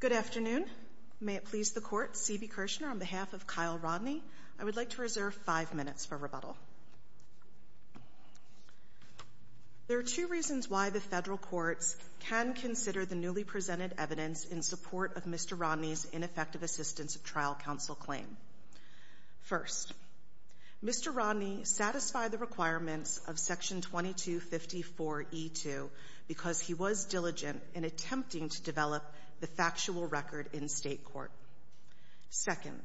Good afternoon. May it please the Court, C.B. Kirshner, on behalf of Kyle Rodney, I would like to reserve five minutes for rebuttal. There are two reasons why the federal courts can consider the newly presented evidence in support of Mr. Rodney's ineffective assistance of trial counsel claim. First, Mr. Rodney satisfied the requirements of Section 2254 E2 because he was diligent in attempting to develop the factual record in state court. Second,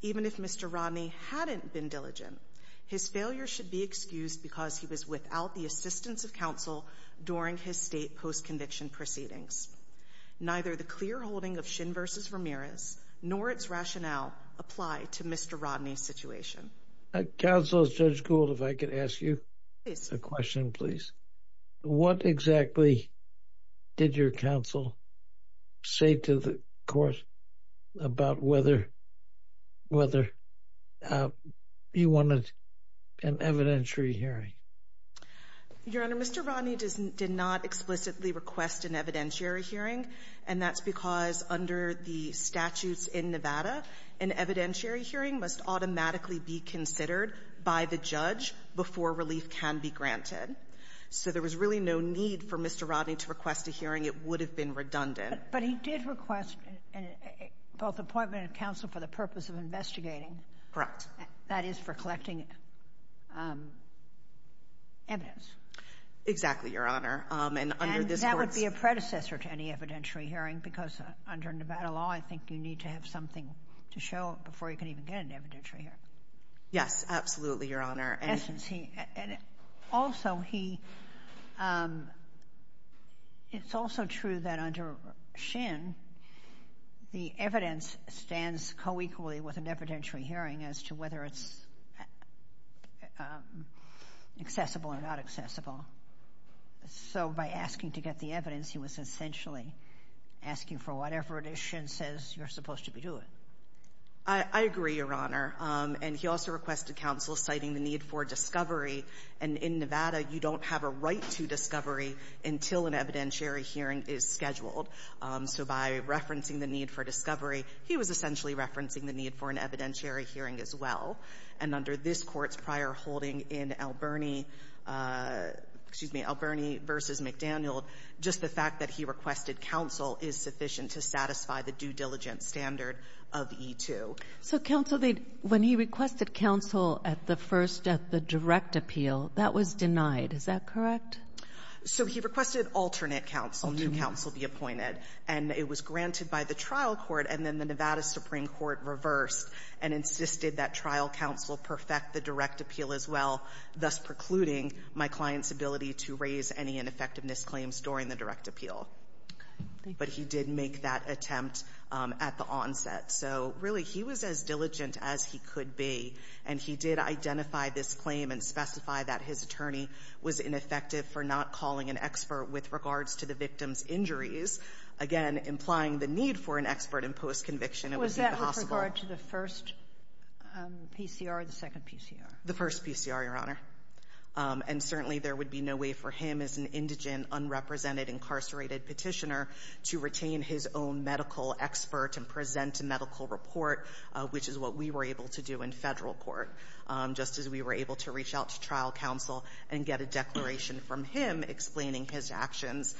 even if Mr. Rodney hadn't been diligent, his failure should be excused because he was without the assistance of counsel during his state post-conviction proceedings. Neither the clear holding of Shin v. Ramirez, nor its rationale, apply to Mr. Rodney's situation. Counsel Judge Gould, if I could ask you a question, please. What exactly did your counsel say to the court about whether you wanted an evidentiary hearing? Gould, Jr. Your Honor, Mr. Rodney did not explicitly request an evidentiary hearing, and that's because under the statutes in Nevada, an evidentiary hearing must automatically be considered by the judge before relief can be granted. So there was really no need for Mr. Rodney to request a hearing. It would have been redundant. But he did request both appointment of counsel for the purpose of investigating. Correct. That is for collecting evidence. Exactly, Your Honor. And under this court's — And that would be a predecessor to any evidentiary hearing because under Nevada law, I think you need to have something to show before you can even get an evidentiary hearing. Yes, absolutely, Your Honor. And also, he — it's also true that under Shin, the evidence stands co-equally with an evidentiary hearing as to whether it's accessible or not accessible. So by asking to get the evidence, he was essentially asking for whatever it is Shin says you're supposed to be doing. I agree, Your Honor. And he also requested counsel citing the need for discovery. And in Nevada, you don't have a right to discovery until an evidentiary hearing is scheduled. So by referencing the need for discovery, he was essentially referencing the need for an evidentiary hearing as well. And under this court's prior holding in Alberni — excuse me, Alberni v. McDaniel, just the fact that he requested counsel is sufficient to satisfy the due diligence standard of E-2. So counsel — when he requested counsel at the first — at the direct appeal, that was denied. Is that correct? So he requested alternate counsel to counsel be appointed. And it was granted by the trial court. And then the Nevada Supreme Court reversed and insisted that trial counsel perfect the direct appeal as well, thus precluding my client's ability to raise any ineffectiveness claims during the direct appeal. But he did make that attempt at the onset. So really, he was as diligent as he could be. And he did identify this claim and specify that his attorney was ineffective for not calling an expert with regards to the victim's injuries, again, implying the need for an expert in post-conviction. It would be possible — Was that with regard to the first PCR or the second PCR? The first PCR, Your Honor. And certainly, there would be no way for him as an indigent, unrepresented, incarcerated Petitioner to retain his own medical expert and present a medical report, which is what we were able to do in federal court, just as we were able to reach out to trial counsel and get a declaration from him explaining his actions.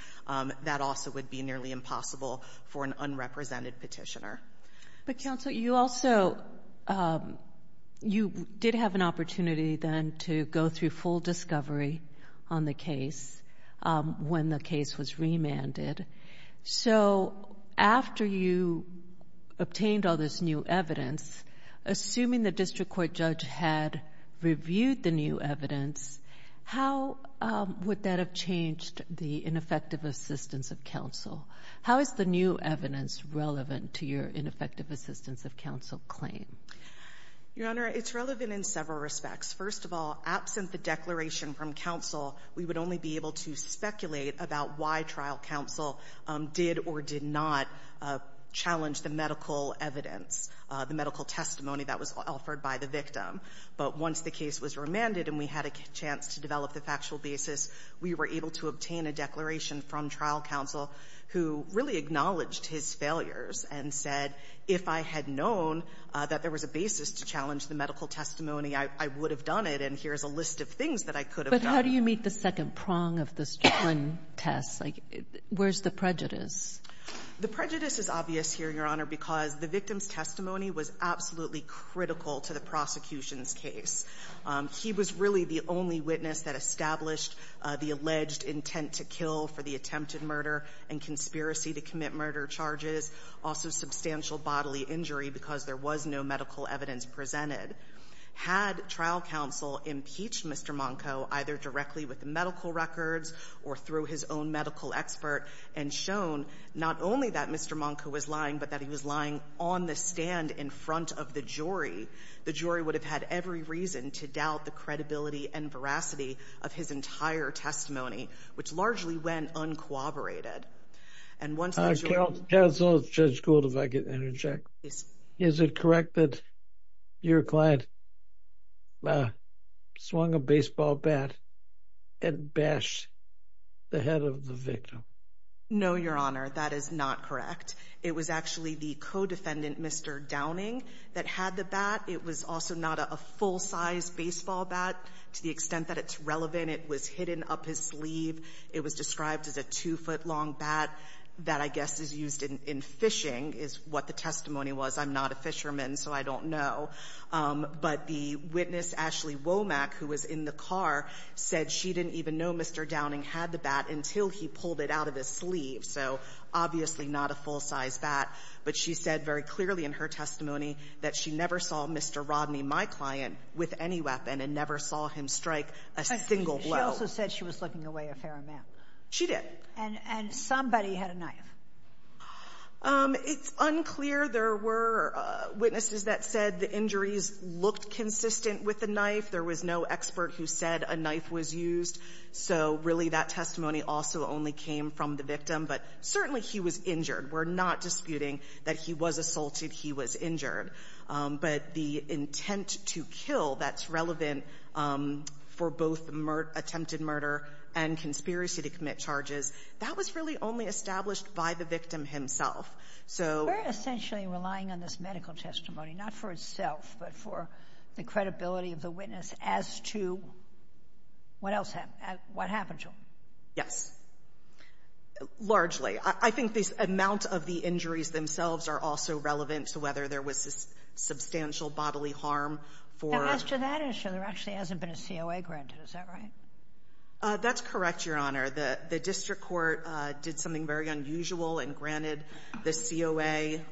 That also would be nearly impossible for an unrepresented Petitioner. But, counsel, you also — you did have an opportunity, then, to go through full discovery on the case when the case was remanded. So after you obtained all this new evidence, assuming the district court judge had reviewed the new evidence, how would that have changed the ineffective assistance of counsel? How is the new evidence relevant to your ineffective assistance of counsel claim? Your Honor, it's relevant in several respects. First of all, absent the declaration from counsel, we would only be able to speculate about why trial counsel did or did not challenge the medical evidence, the medical testimony that was offered by the victim. But once the case was remanded and we had a chance to develop the factual basis, we were able to obtain a declaration from trial counsel who really acknowledged his failures and said, if I had known that there was a basis to challenge the medical testimony, I would have done it, and here's a list of things that I could have done. How do you meet the second prong of this one test? Where's the prejudice? The prejudice is obvious here, Your Honor, because the victim's testimony was absolutely critical to the prosecution's case. He was really the only witness that established the alleged intent to kill for the attempted murder and conspiracy to commit murder charges, also substantial bodily injury because there was no medical evidence presented. Had trial counsel impeached Mr. Monco either directly with the medical records or through his own medical expert and shown not only that Mr. Monco was lying, but that he was lying on the stand in front of the jury, the jury would have had every reason to doubt the credibility and veracity of his entire testimony, which largely went uncooperated. And once the jury— Counsel, Judge Gould, if I could interject, is it correct that your client swung a baseball bat and bashed the head of the victim? No, Your Honor, that is not correct. It was actually the co-defendant, Mr. Downing, that had the bat. It was also not a full-size baseball bat to the extent that it's relevant. It was hidden up his sleeve. It was described as a two-foot-long bat that I guess is used in fishing, is what the testimony was. I'm not a fisherman, so I don't know. But the witness, Ashley Womack, who was in the car, said she didn't even know Mr. Downing had the bat until he pulled it out of his sleeve. So obviously not a full-size bat. But she said very clearly in her testimony that she never saw Mr. Rodney, my client, with any weapon and never saw him strike a single blow. She also said she was looking away a fair amount. She did. And somebody had a knife. It's unclear. There were witnesses that said the injuries looked consistent with the knife. There was no expert who said a knife was used. So really that testimony also only came from the victim. But certainly he was injured. We're not disputing that he was assaulted, he was injured. But the intent to kill that's relevant for both attempted murder and conspiracy to commit charges, that was really only established by the victim himself. So — We're essentially relying on this medical testimony, not for itself, but for the credibility of the witness as to what else happened, what happened to him. Yes, largely. I think the amount of the injuries themselves are also relevant to whether there was substantial bodily harm for — And as to that issue, there actually hasn't been a COA granted. Is that right? That's correct, Your Honor. The district court did something very unusual and granted the COA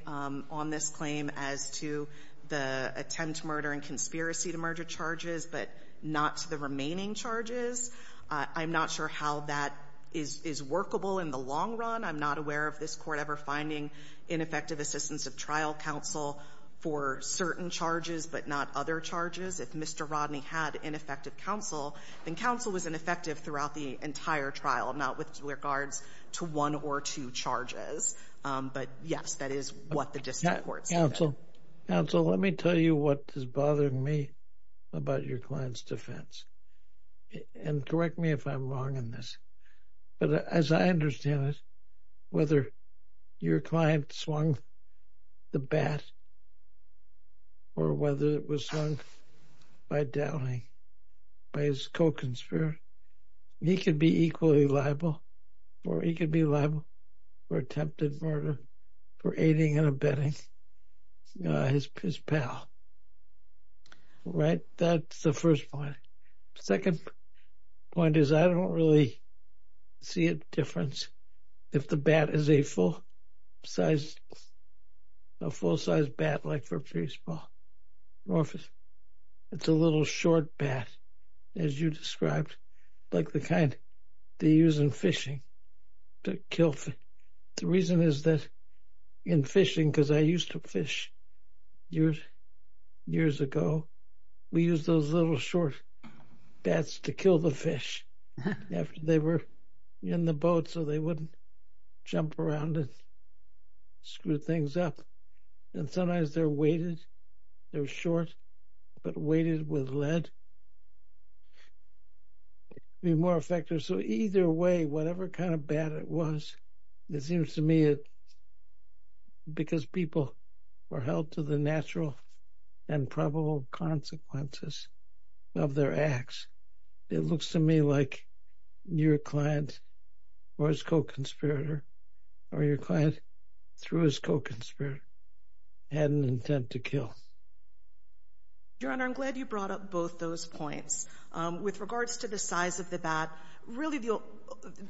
on this claim as to the attempt murder and conspiracy to murder charges, but not to the remaining charges. I'm not sure how that is workable in the long run. I'm not aware of this court ever finding ineffective assistance of trial counsel for certain charges, but not other charges. If Mr. Rodney had ineffective counsel, then counsel was ineffective throughout the entire trial, not with regards to one or two charges. But yes, that is what the district court said. Counsel, counsel, let me tell you what is bothering me about your client's defense. And correct me if I'm wrong in this. But as I understand it, whether your client swung the bat or whether it was swung by Dowling, by his co-conspirator, he could be equally liable or he could be liable for attempted murder for aiding and abetting his pal. Right? That's the first point. Second point is I don't really see a difference if the bat is a full size, a full size bat like for baseball or if it's a little short bat, as you described, like the kind they use in fishing to kill fish. The reason is that in fishing, because I used to fish years, years ago, we used those little short bats to kill the fish after they were in the boat so they wouldn't jump around and screw things up. And sometimes they're weighted, they're short, but weighted with lead. Be more effective. So either way, whatever kind of bat it was, it seems to me that because people were held to the natural and probable consequences of their acts, it looks to me like your client or his co-conspirator or your client through his co-conspirator had an intent to kill. Your Honor, I'm glad you brought up both those points. With regards to the size of the bat, really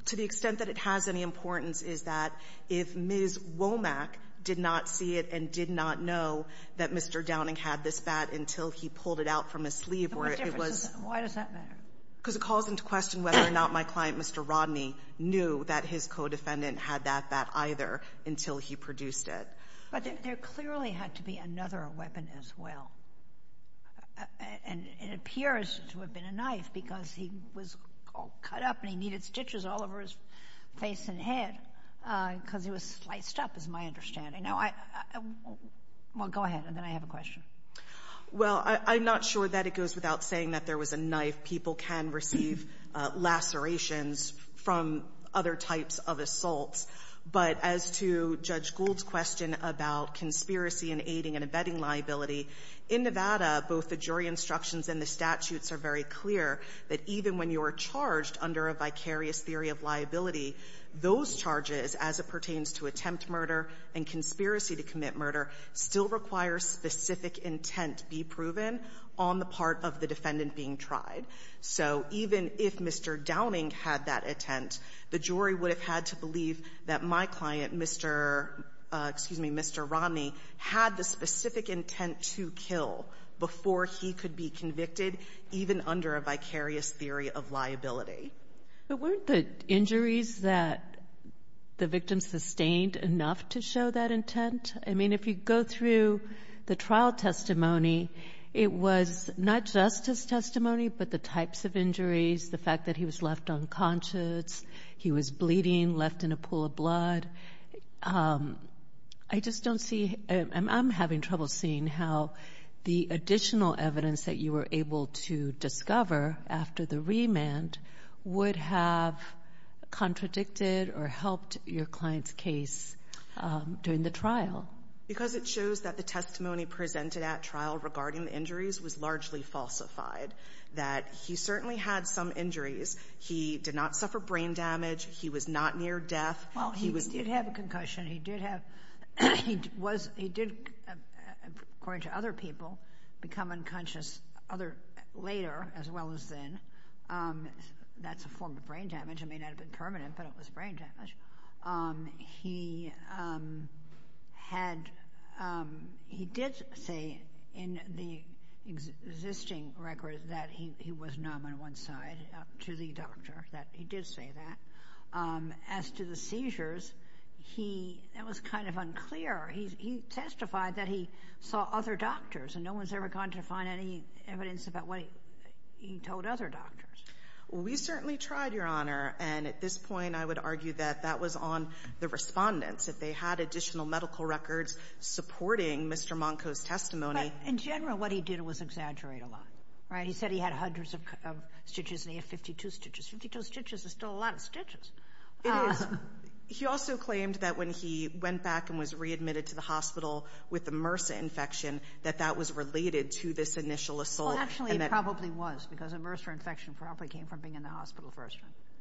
to the extent that it has any importance is that if Ms. Womack did not see it and did not know that Mr. Downing had this bat until he pulled it out from his sleeve, where it was — Why does that matter? Because it calls into question whether or not my client, Mr. Rodney, knew that his co-defendant had that bat either until he produced it. But there clearly had to be another weapon as well. And it appears to have been a knife because he was cut up and he needed stitches all over his face and head. Because he was sliced up is my understanding. Now, I — well, go ahead, and then I have a question. Well, I'm not sure that it goes without saying that there was a knife. People can receive lacerations from other types of assaults. But as to Judge Gould's question about conspiracy and aiding and abetting liability, in Nevada, both the jury instructions and the statutes are very clear that even when you are charged under a vicarious theory of liability, those charges, as it pertains to attempt murder and conspiracy to commit murder, still require specific intent be proven on the part of the defendant being tried. So even if Mr. Downing had that intent, the jury would have had to believe that my client, Mr. — excuse me, Mr. Rodney, had the specific intent to kill before he could be convicted even under a vicarious theory of liability. But weren't the injuries that the victim sustained enough to show that intent? I mean, if you go through the trial testimony, it was not justice testimony, but the types of injuries, the fact that he was left unconscious, he was bleeding, left in a pool of blood. I just don't see — I'm having trouble seeing how the additional evidence that you were able to discover after the remand would have contradicted or helped your client's case during the trial. Because it shows that the testimony presented at trial regarding the injuries was largely falsified, that he certainly had some injuries. He did not suffer brain damage. He was not near death. Well, he did have a concussion. He did have — he was — he did, according to other people, become unconscious later as well as then. That's a form of brain damage. It may not have been permanent, but it was brain damage. He had — he did say in the existing records that he was numb on one side, to the doctor, that he did say that. As to the seizures, he — that was kind of unclear. He testified that he saw other doctors, and no one's ever gone to find any evidence about what he told other doctors. We certainly tried, Your Honor. And at this point, I would argue that that was on the respondents, that they had additional medical records supporting Mr. Monko's testimony. But in general, what he did was exaggerate a lot, right? He said he had hundreds of stitches, and he had 52 stitches. 52 stitches is still a lot of stitches. It is. He also claimed that when he went back and was readmitted to the hospital with the MRSA infection, that that was related to this initial assault. Well, actually, it probably was, because a MRSA infection probably came from being in the hospital first.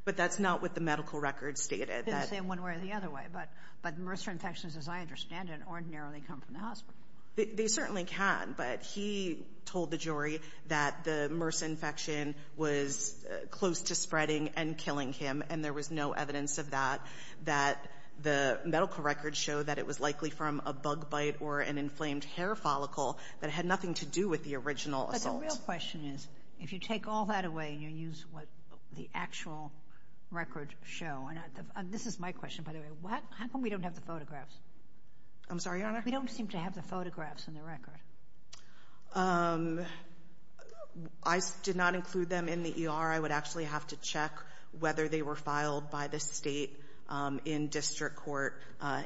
But that's not what the medical records stated. They didn't say it one way or the other way. But MRSA infections, as I understand it, ordinarily come from the hospital. They certainly can. But he told the jury that the MRSA infection was close to spreading and killing him, and there was no evidence of that, that the medical records show that it was likely from a bug bite or an inflamed hair follicle that had nothing to do with the original assault. But the real question is, if you take all that away and you use what the actual records show, and this is my question, by the way, how come we don't have the photographs? I'm sorry, Your Honor? We don't seem to have the photographs in the record. I did not include them in the ER. I would actually have to check whether they were filed by the state in district court.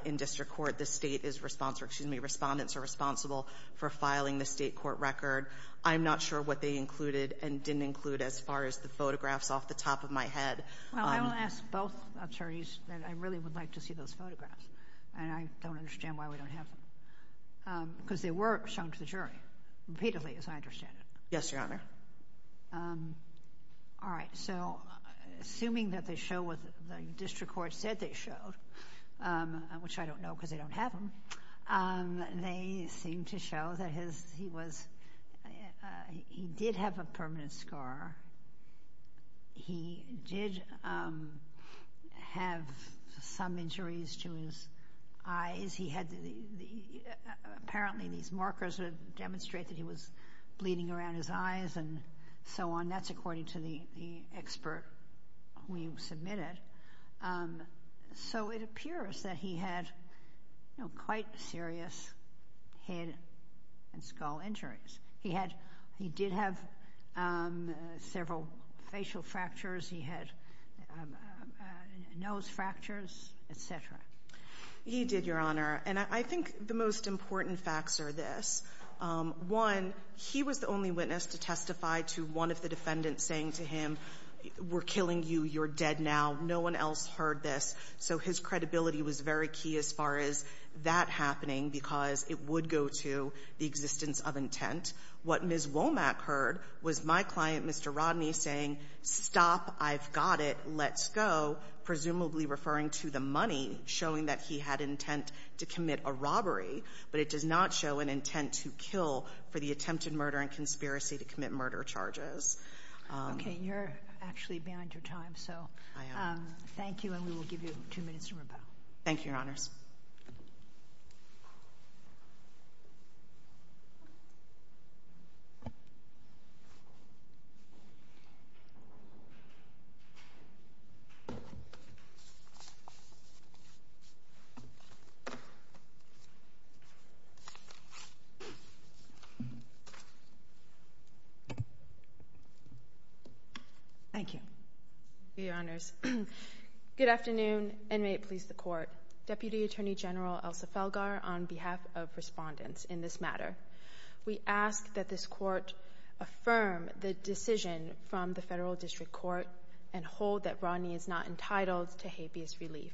In district court, the state is responsible, excuse me, respondents are responsible for filing the state court record. I'm not sure what they included and didn't include as far as the photographs off the top of my head. Well, I will ask both attorneys that I really would like to see those photographs. And I don't understand why we don't have them. Because they were shown to the jury repeatedly, as I understand it. Yes, Your Honor. All right. So assuming that they show what the district court said they showed, which I don't know because they don't have them, they seem to show that he did have a permanent scar. He did have some injuries to his eyes. He had the apparently these markers would demonstrate that he was bleeding around his eyes and so on. That's according to the expert we submitted. So it appears that he had quite serious head and skull injuries. He did have several facial fractures. He had nose fractures, et cetera. He did, Your Honor. And I think the most important facts are this. One, he was the only witness to testify to one of the defendants saying to him, we're killing you. You're dead now. No one else heard this. So his credibility was very key as far as that happening, because it would go to the existence of intent. What Ms. Womack heard was my client, Mr. Rodney, saying, stop, I've got it, let's go, presumably referring to the money showing that he had intent to commit a robbery. But it does not show an intent to kill for the attempted murder and conspiracy to commit murder charges. Okay. You're actually behind your time. So thank you. And we will give you two minutes to rebut. Thank you, Your Honors. Thank you, Your Honors. Good afternoon, and may it please the Court. Deputy Attorney General Elsa Felgar on behalf of respondents in this matter. We ask that this Court affirm the decision from the Federal District Court and hold that Rodney is not entitled to habeas relief.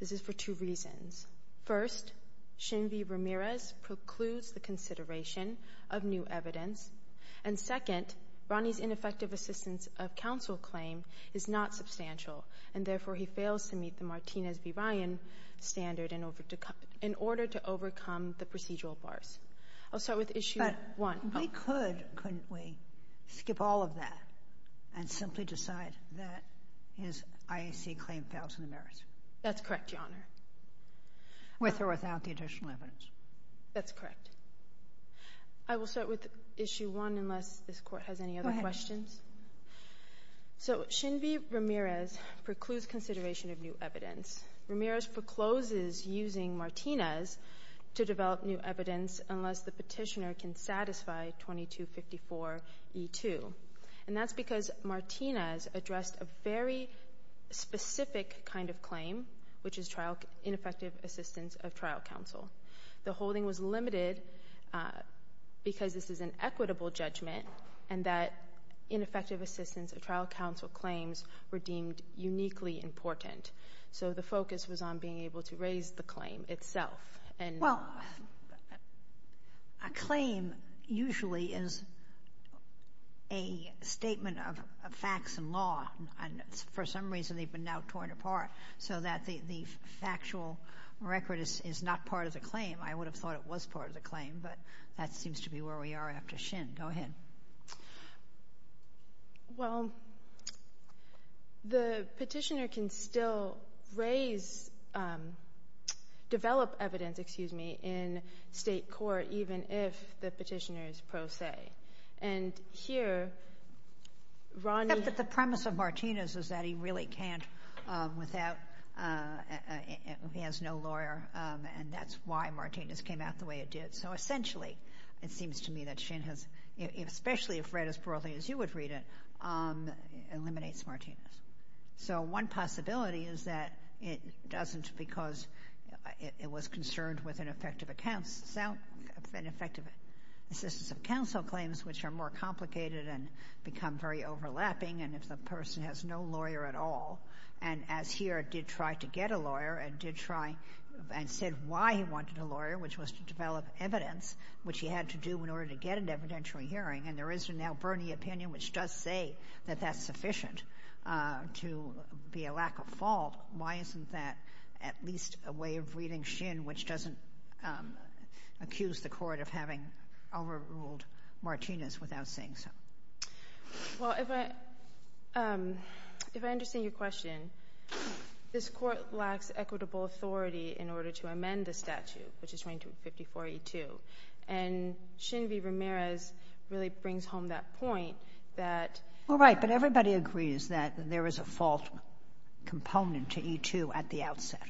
This is for two reasons. First, Shin V. Ramirez precludes the consideration of new evidence. And second, Rodney's ineffective assistance of counsel claim is not substantial, and therefore, he fails to meet the Martinez v. Ryan standard in order to overcome the procedural bars. I'll start with issue one. We could, couldn't we, skip all of that and simply decide that his IAC claim fails in the merits? That's correct, Your Honor. With or without the additional evidence? That's correct. I will start with issue one unless this Court has any other questions. So, Shin V. Ramirez precludes consideration of new evidence. Ramirez procloses using Martinez to develop new evidence unless the petitioner can satisfy 2254E2. And that's because Martinez addressed a very specific kind of claim, which is ineffective assistance of trial counsel. The holding was limited because this is an equitable judgment, and that ineffective assistance of trial counsel claims were deemed uniquely important. So the focus was on being able to raise the claim itself. Well, a claim usually is a statement of facts and law. And for some reason, they've been now torn apart so that the factual record is not part of the claim. I would have thought it was part of the claim, but that seems to be where we are after Shin. Go ahead. Well, the petitioner can still raise, develop evidence, excuse me, in state court even if the petitioner is pro se. And here, Ronnie— But the premise of Martinez is that he really can't without, he has no lawyer. And that's why Martinez came out the way it did. So essentially, it seems to me that Shin has, especially if read as broadly as you would read it, eliminates Martinez. So one possibility is that it doesn't because it was concerned with ineffective accounts, ineffective assistance of counsel claims, which are more complicated and become very overlapping. And if the person has no lawyer at all, and as here did try to get a lawyer and did try and said why he wanted a lawyer, which was to develop evidence, which he had to do in order to get an evidentiary hearing. And there is a now Bernie opinion which does say that that's sufficient to be a lack of fault. Why isn't that at least a way of reading Shin, which doesn't accuse the Court of having overruled Martinez without saying so? Well, if I understand your question, this Court lacks equitable authority in order to amend the statute, which is 254E2. And Shin v. Ramirez really brings home that point that— Well, right. But everybody agrees that there is a fault component to E2 at the outset.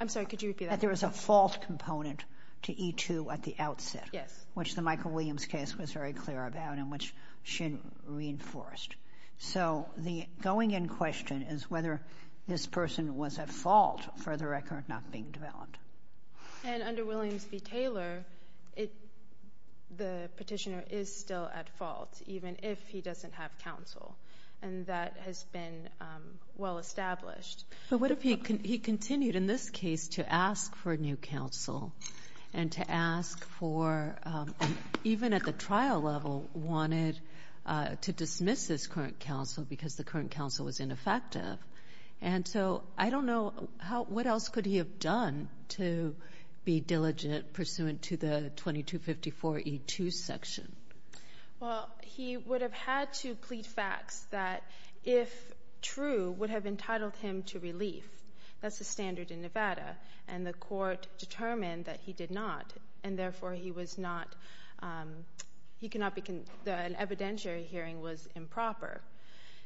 I'm sorry. Could you repeat that? That there is a fault component to E2 at the outset. Yes. Which the Michael Williams case was very clear about and which Shin reinforced. So the going in question is whether this person was at fault for the record not being developed. And under Williams v. Taylor, the petitioner is still at fault, even if he doesn't have counsel. And that has been well established. But what if he continued in this case to ask for new counsel and to ask for, even at the trial level, wanted to dismiss this current counsel because the current counsel was ineffective? And so I don't know how — what else could he have done to be diligent pursuant to the 2254E2 section? Well, he would have had to plead facts that, if true, would have entitled him to relief. That's the standard in Nevada. And the court determined that he did not. And therefore, he was not — an evidentiary hearing was improper.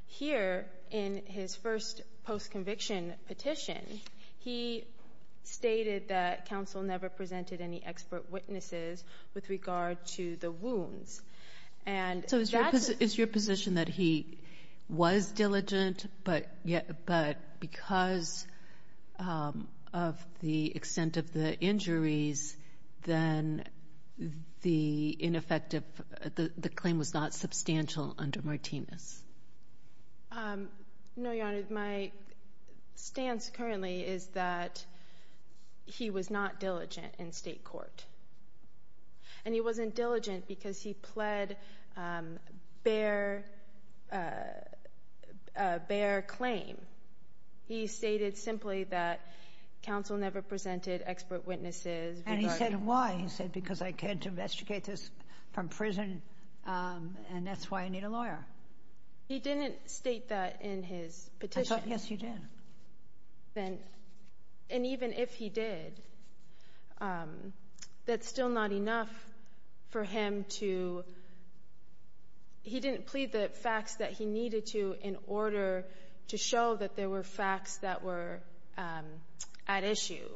Here, in his first post-conviction petition, he stated that counsel never presented any witnesses with regard to the wounds. And that's — So is your position that he was diligent, but because of the extent of the injuries, then the ineffective — the claim was not substantial under Martinez? No, Your Honor. My stance currently is that he was not diligent in state court. And he wasn't diligent because he pled a bare claim. He stated simply that counsel never presented expert witnesses. And he said, why? He said, because I can't investigate this from prison, and that's why I need a lawyer. He didn't state that in his petition. Yes, you did. And even if he did, that's still not enough for him to — he didn't plead the facts that he needed to in order to show that there were facts that were at issue.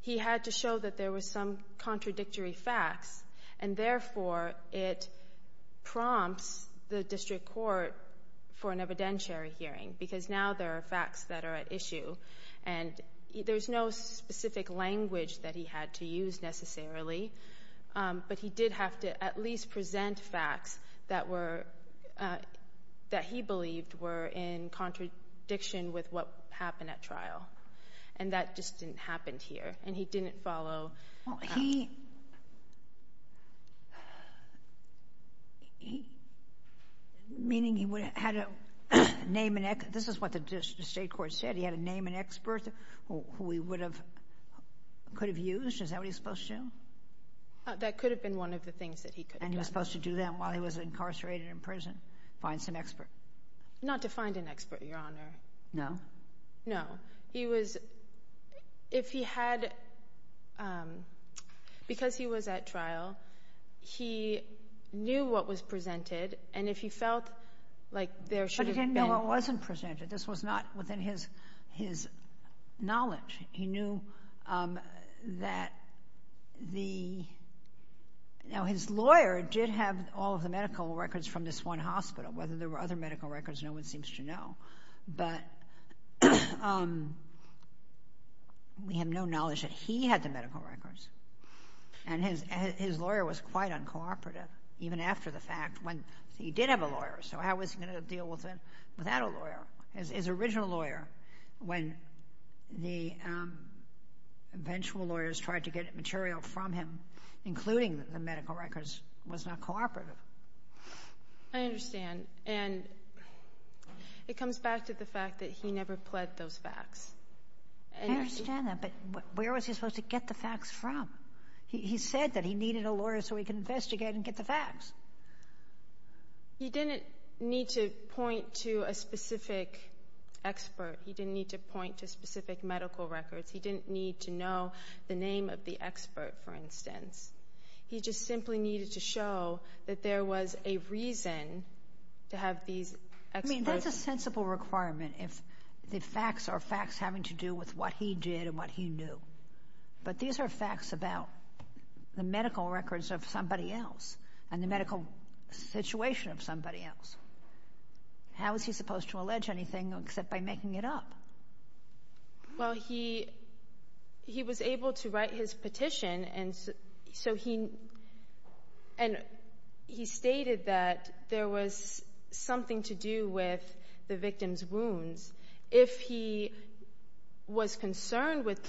He had to show that there were some contradictory facts. And therefore, it prompts the district court for an evidentiary hearing, because now there are facts that are at issue. And there's no specific language that he had to use, necessarily. But he did have to at least present facts that were — that he believed were in contradiction with what happened at trial. And that just didn't happen here. And he didn't follow — Well, he — meaning he had to name an — this is what the state court said. He had to name an expert who he would have — could have used. Is that what he was supposed to do? That could have been one of the things that he could have done. And he was supposed to do that while he was incarcerated in prison, find some expert. Not to find an expert, Your Honor. No? No. He was — if he had — because he was at trial, he knew what was presented. And if he felt like there should have been — But he didn't know what wasn't presented. This was not within his knowledge. He knew that the — now, his lawyer did have all of the medical records from this one hospital. Whether there were other medical records, no one seems to know. But we have no knowledge that he had the medical records. And his lawyer was quite uncooperative, even after the fact, when he did have a lawyer. So how was he going to deal with it without a lawyer? His original lawyer, when the eventual lawyers tried to get material from him, including the medical records, was not cooperative. I understand. And it comes back to the fact that he never pled those facts. I understand that. But where was he supposed to get the facts from? He said that he needed a lawyer so he could investigate and get the facts. He didn't need to point to a specific expert. He didn't need to point to specific medical records. He didn't need to know the name of the expert, for instance. He just simply needed to show that there was a reason to have these experts. I mean, that's a sensible requirement, if the facts are facts having to do with what he did and what he knew. But these are facts about the medical records of somebody else and the medical situation of somebody else. How is he supposed to allege anything except by making it up? Well, he was able to write his petition, and so he stated that there was something to do with the victim's wounds. If he was concerned with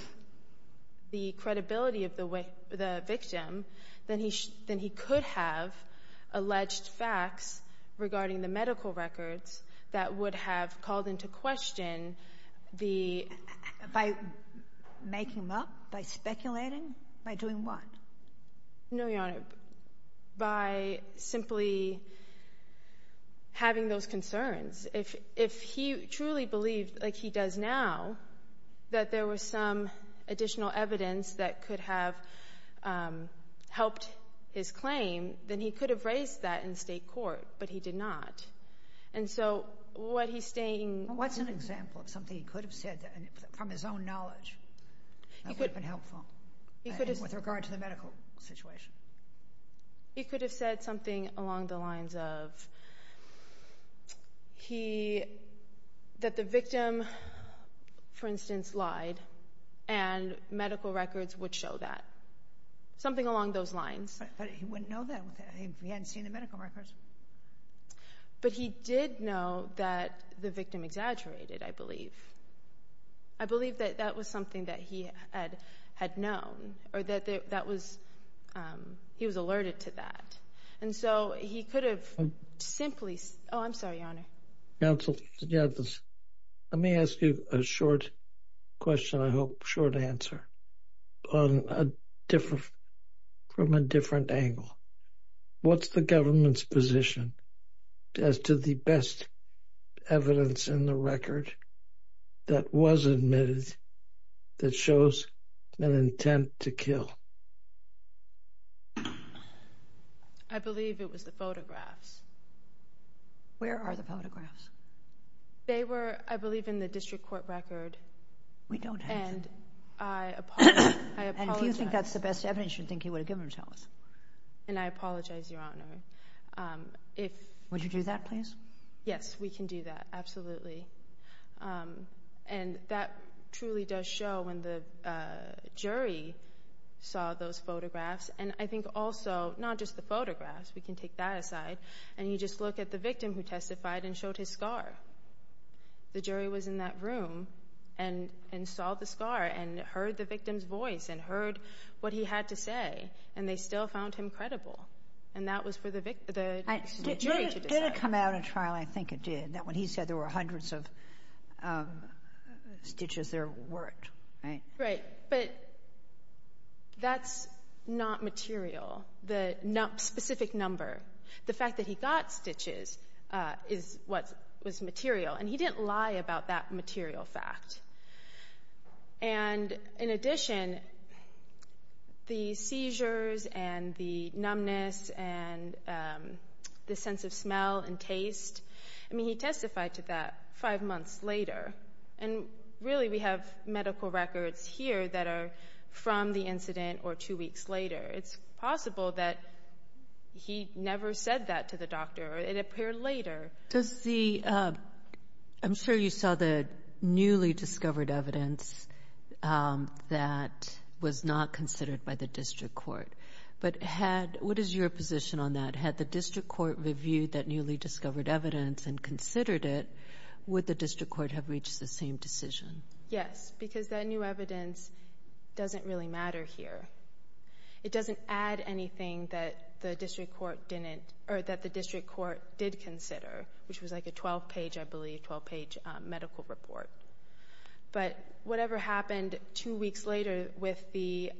the credibility of the victim, then he could have alleged facts regarding the medical records that would have called into question the — By making them up? By speculating? By doing what? No, Your Honor. By simply having those concerns. If he truly believed, like he does now, that there was some additional evidence that could have helped his claim, then he could have raised that in state court, but he did not. And so, what he's stating — What's an example of something he could have said from his own knowledge that would have been helpful with regard to the medical situation? He could have said something along the lines of that the victim, for instance, lied, and medical records would show that. Something along those lines. But he wouldn't know that if he hadn't seen the medical records. But he did know that the victim exaggerated, I believe. I believe that that was something that he had known, or that he was alerted to that. And so, he could have — Simply — Oh, I'm sorry, Your Honor. Counsel, let me ask you a short question, I hope. Short answer. From a different angle. What's the government's position as to the best evidence in the record that was admitted that shows an intent to kill? I believe it was the photographs. Where are the photographs? They were, I believe, in the district court record. We don't have them. And I apologize — And if you think that's the best evidence, you'd think he would have given them to us. And I apologize, Your Honor. If — Would you do that, please? Yes, we can do that. Absolutely. And that truly does show when the jury saw those photographs. And I think also, not just the photographs, we can take that aside. And you just look at the victim who testified and showed his scar. The jury was in that room and saw the scar and heard the victim's voice and heard what he had to say. And they still found him credible. And that was for the jury to decide. Did it come out in trial? I think it did. When he said there were hundreds of stitches, there weren't, right? Right. But that's not material, the specific number. The fact that he got stitches is what was material. And he didn't lie about that material fact. And in addition, the seizures and the numbness and the sense of smell and taste — I mean, he testified to that five months later. And really, we have medical records here that are from the incident or two weeks later. It's possible that he never said that to the doctor. It appeared later. Does the — I'm sure you saw the newly discovered evidence that was not considered by the district court. But had — what is your position on that? Had the district court reviewed that newly discovered evidence and considered it, would the district court have reached the same decision? Yes, because that new evidence doesn't really matter here. It doesn't add anything that the district court didn't — or that the district court did consider, which was like a 12-page, I believe, 12-page medical report. But whatever happened two weeks later with the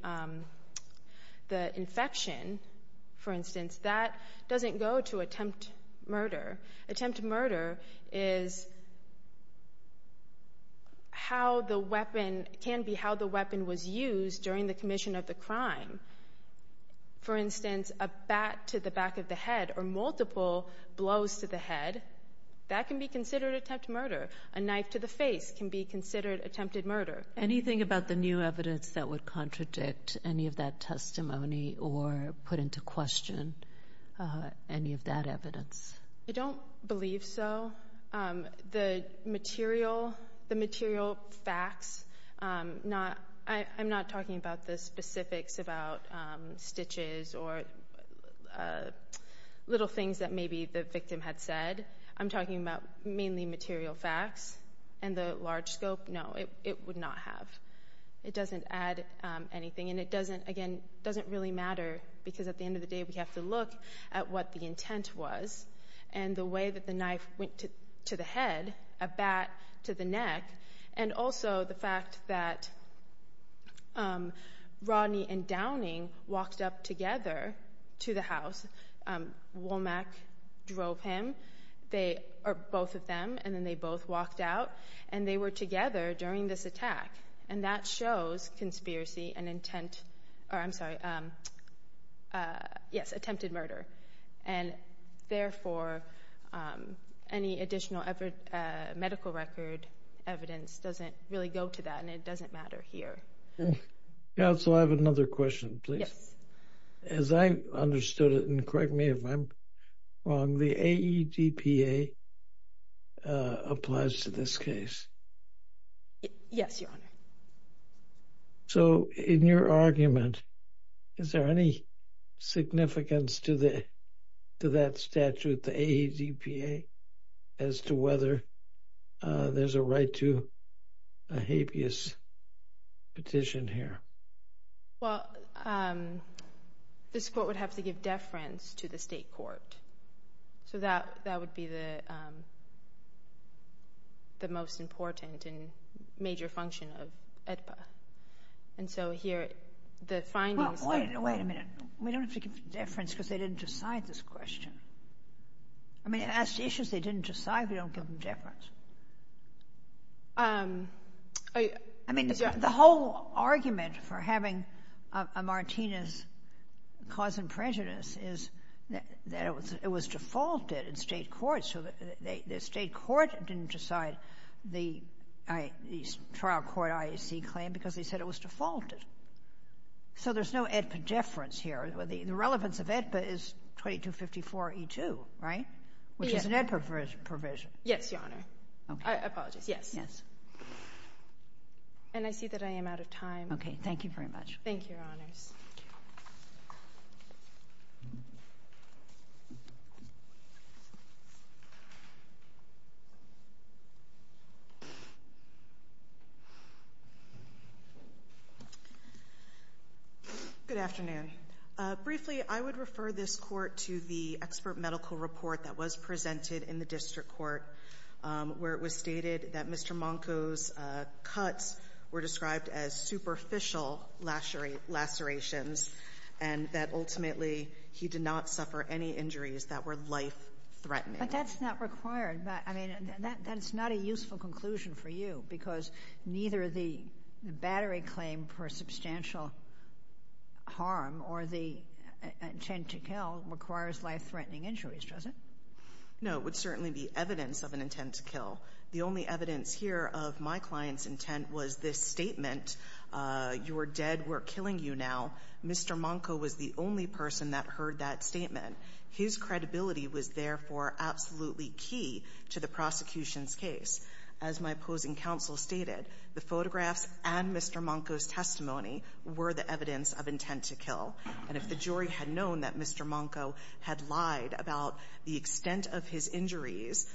infection, for instance, that doesn't go to attempt murder. Attempt murder is how the weapon — can be how the weapon was used during the commission of the crime. For instance, a bat to the back of the head or multiple blows to the head, that can be considered attempt murder. A knife to the face can be considered attempted murder. Anything about the new evidence that would contradict any of that testimony or put into question any of that evidence? I don't believe so. The material — the material facts, not — I'm not talking about the specifics about stitches or little things that maybe the victim had said. I'm talking about mainly material facts. And the large scope, no, it would not have. It doesn't add anything. And it doesn't, again, doesn't really matter because at the end of the day, we have to look at what the intent was and the way that the knife went to the head, a bat to the neck, and also the fact that Rodney and Downing walked up together to the house. Womack drove him. They — or both of them, and then they both walked out. And they were together during this attack. And that shows conspiracy and intent — or, I'm sorry, yes, attempted murder. And therefore, any additional medical record evidence doesn't really go to that. And it doesn't matter here. Counsel, I have another question, please. Yes. As I understood it, and correct me if I'm wrong, the AEDPA applies to this case? Yes, Your Honor. So, in your argument, is there any significance to that statute, the AEDPA, as to whether there's a right to a habeas petition here? Well, this court would have to give deference to the state court. So, that would be the most important and major function of AEDPA. And so, here, the findings — Well, wait a minute. We don't have to give deference because they didn't decide this question. I mean, it asked issues they didn't decide. We don't give them deference. I mean, the whole argument for having a Martinez cause and prejudice is that it was defaulted in state court. So, the state court didn't decide the trial court IAC claim because they said it was defaulted. So, there's no AEDPA deference here. The relevance of AEDPA is 2254E2, right? Yes. Which is an AEDPA provision. Yes, Your Honor. Okay. I apologize. Yes. Yes. And I see that I am out of time. Okay. Thank you very much. Thank you, Your Honors. Good afternoon. Briefly, I would refer this Court to the expert medical report that was presented in the district court where it was stated that Mr. Monko's cuts were described as superficial lacerations and that ultimately he did not suffer any injuries that were life-threatening. But that's not required. But, I mean, that's not a useful conclusion for you because neither the battery claim for substantial harm or the intent to kill requires life-threatening injuries, does it? No. It would certainly be evidence of an intent to kill. The only evidence here of my client's intent was this statement, you're dead, we're killing you now. Mr. Monko was the only person that heard that statement. His credibility was, therefore, absolutely key to the prosecution's case. As my opposing counsel stated, the photographs and Mr. Monko's testimony were the evidence of intent to kill. And if the jury had known that Mr. Monko had lied about the extent of his injuries,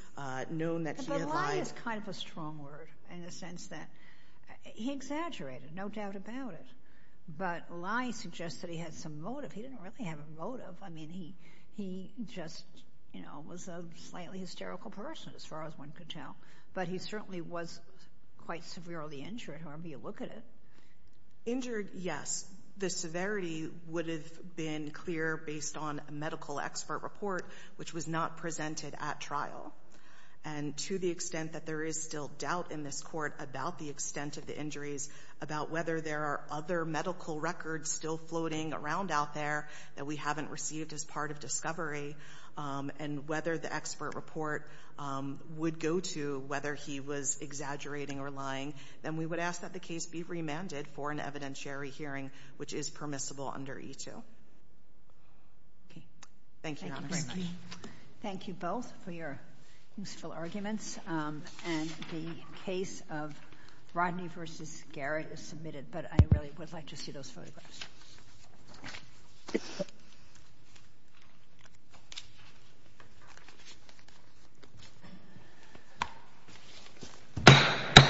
known that he had lied— But lie is kind of a strong word in the sense that he exaggerated, no doubt about it. But lie suggests that he had some motive. He didn't really have a motive. I mean, he just, you know, was a slightly hysterical person, as far as one could tell. But he certainly was quite severely injured, however you look at it. Injured, yes. The severity would have been clear based on a medical expert report, which was not presented at trial. And to the extent that there is still doubt in this Court about the extent of the injuries, about whether there are other medical records still floating around out there that we haven't received as part of discovery, and whether the expert report would go to whether he was exaggerating or lying, then we would ask that the case be remanded for an evidentiary hearing, which is permissible under E-2. Okay. Thank you, Your Honor. Thank you very much. Thank you both for your useful arguments. And the case of Rodney v. Garrett is submitted. But I really would like to see those photographs.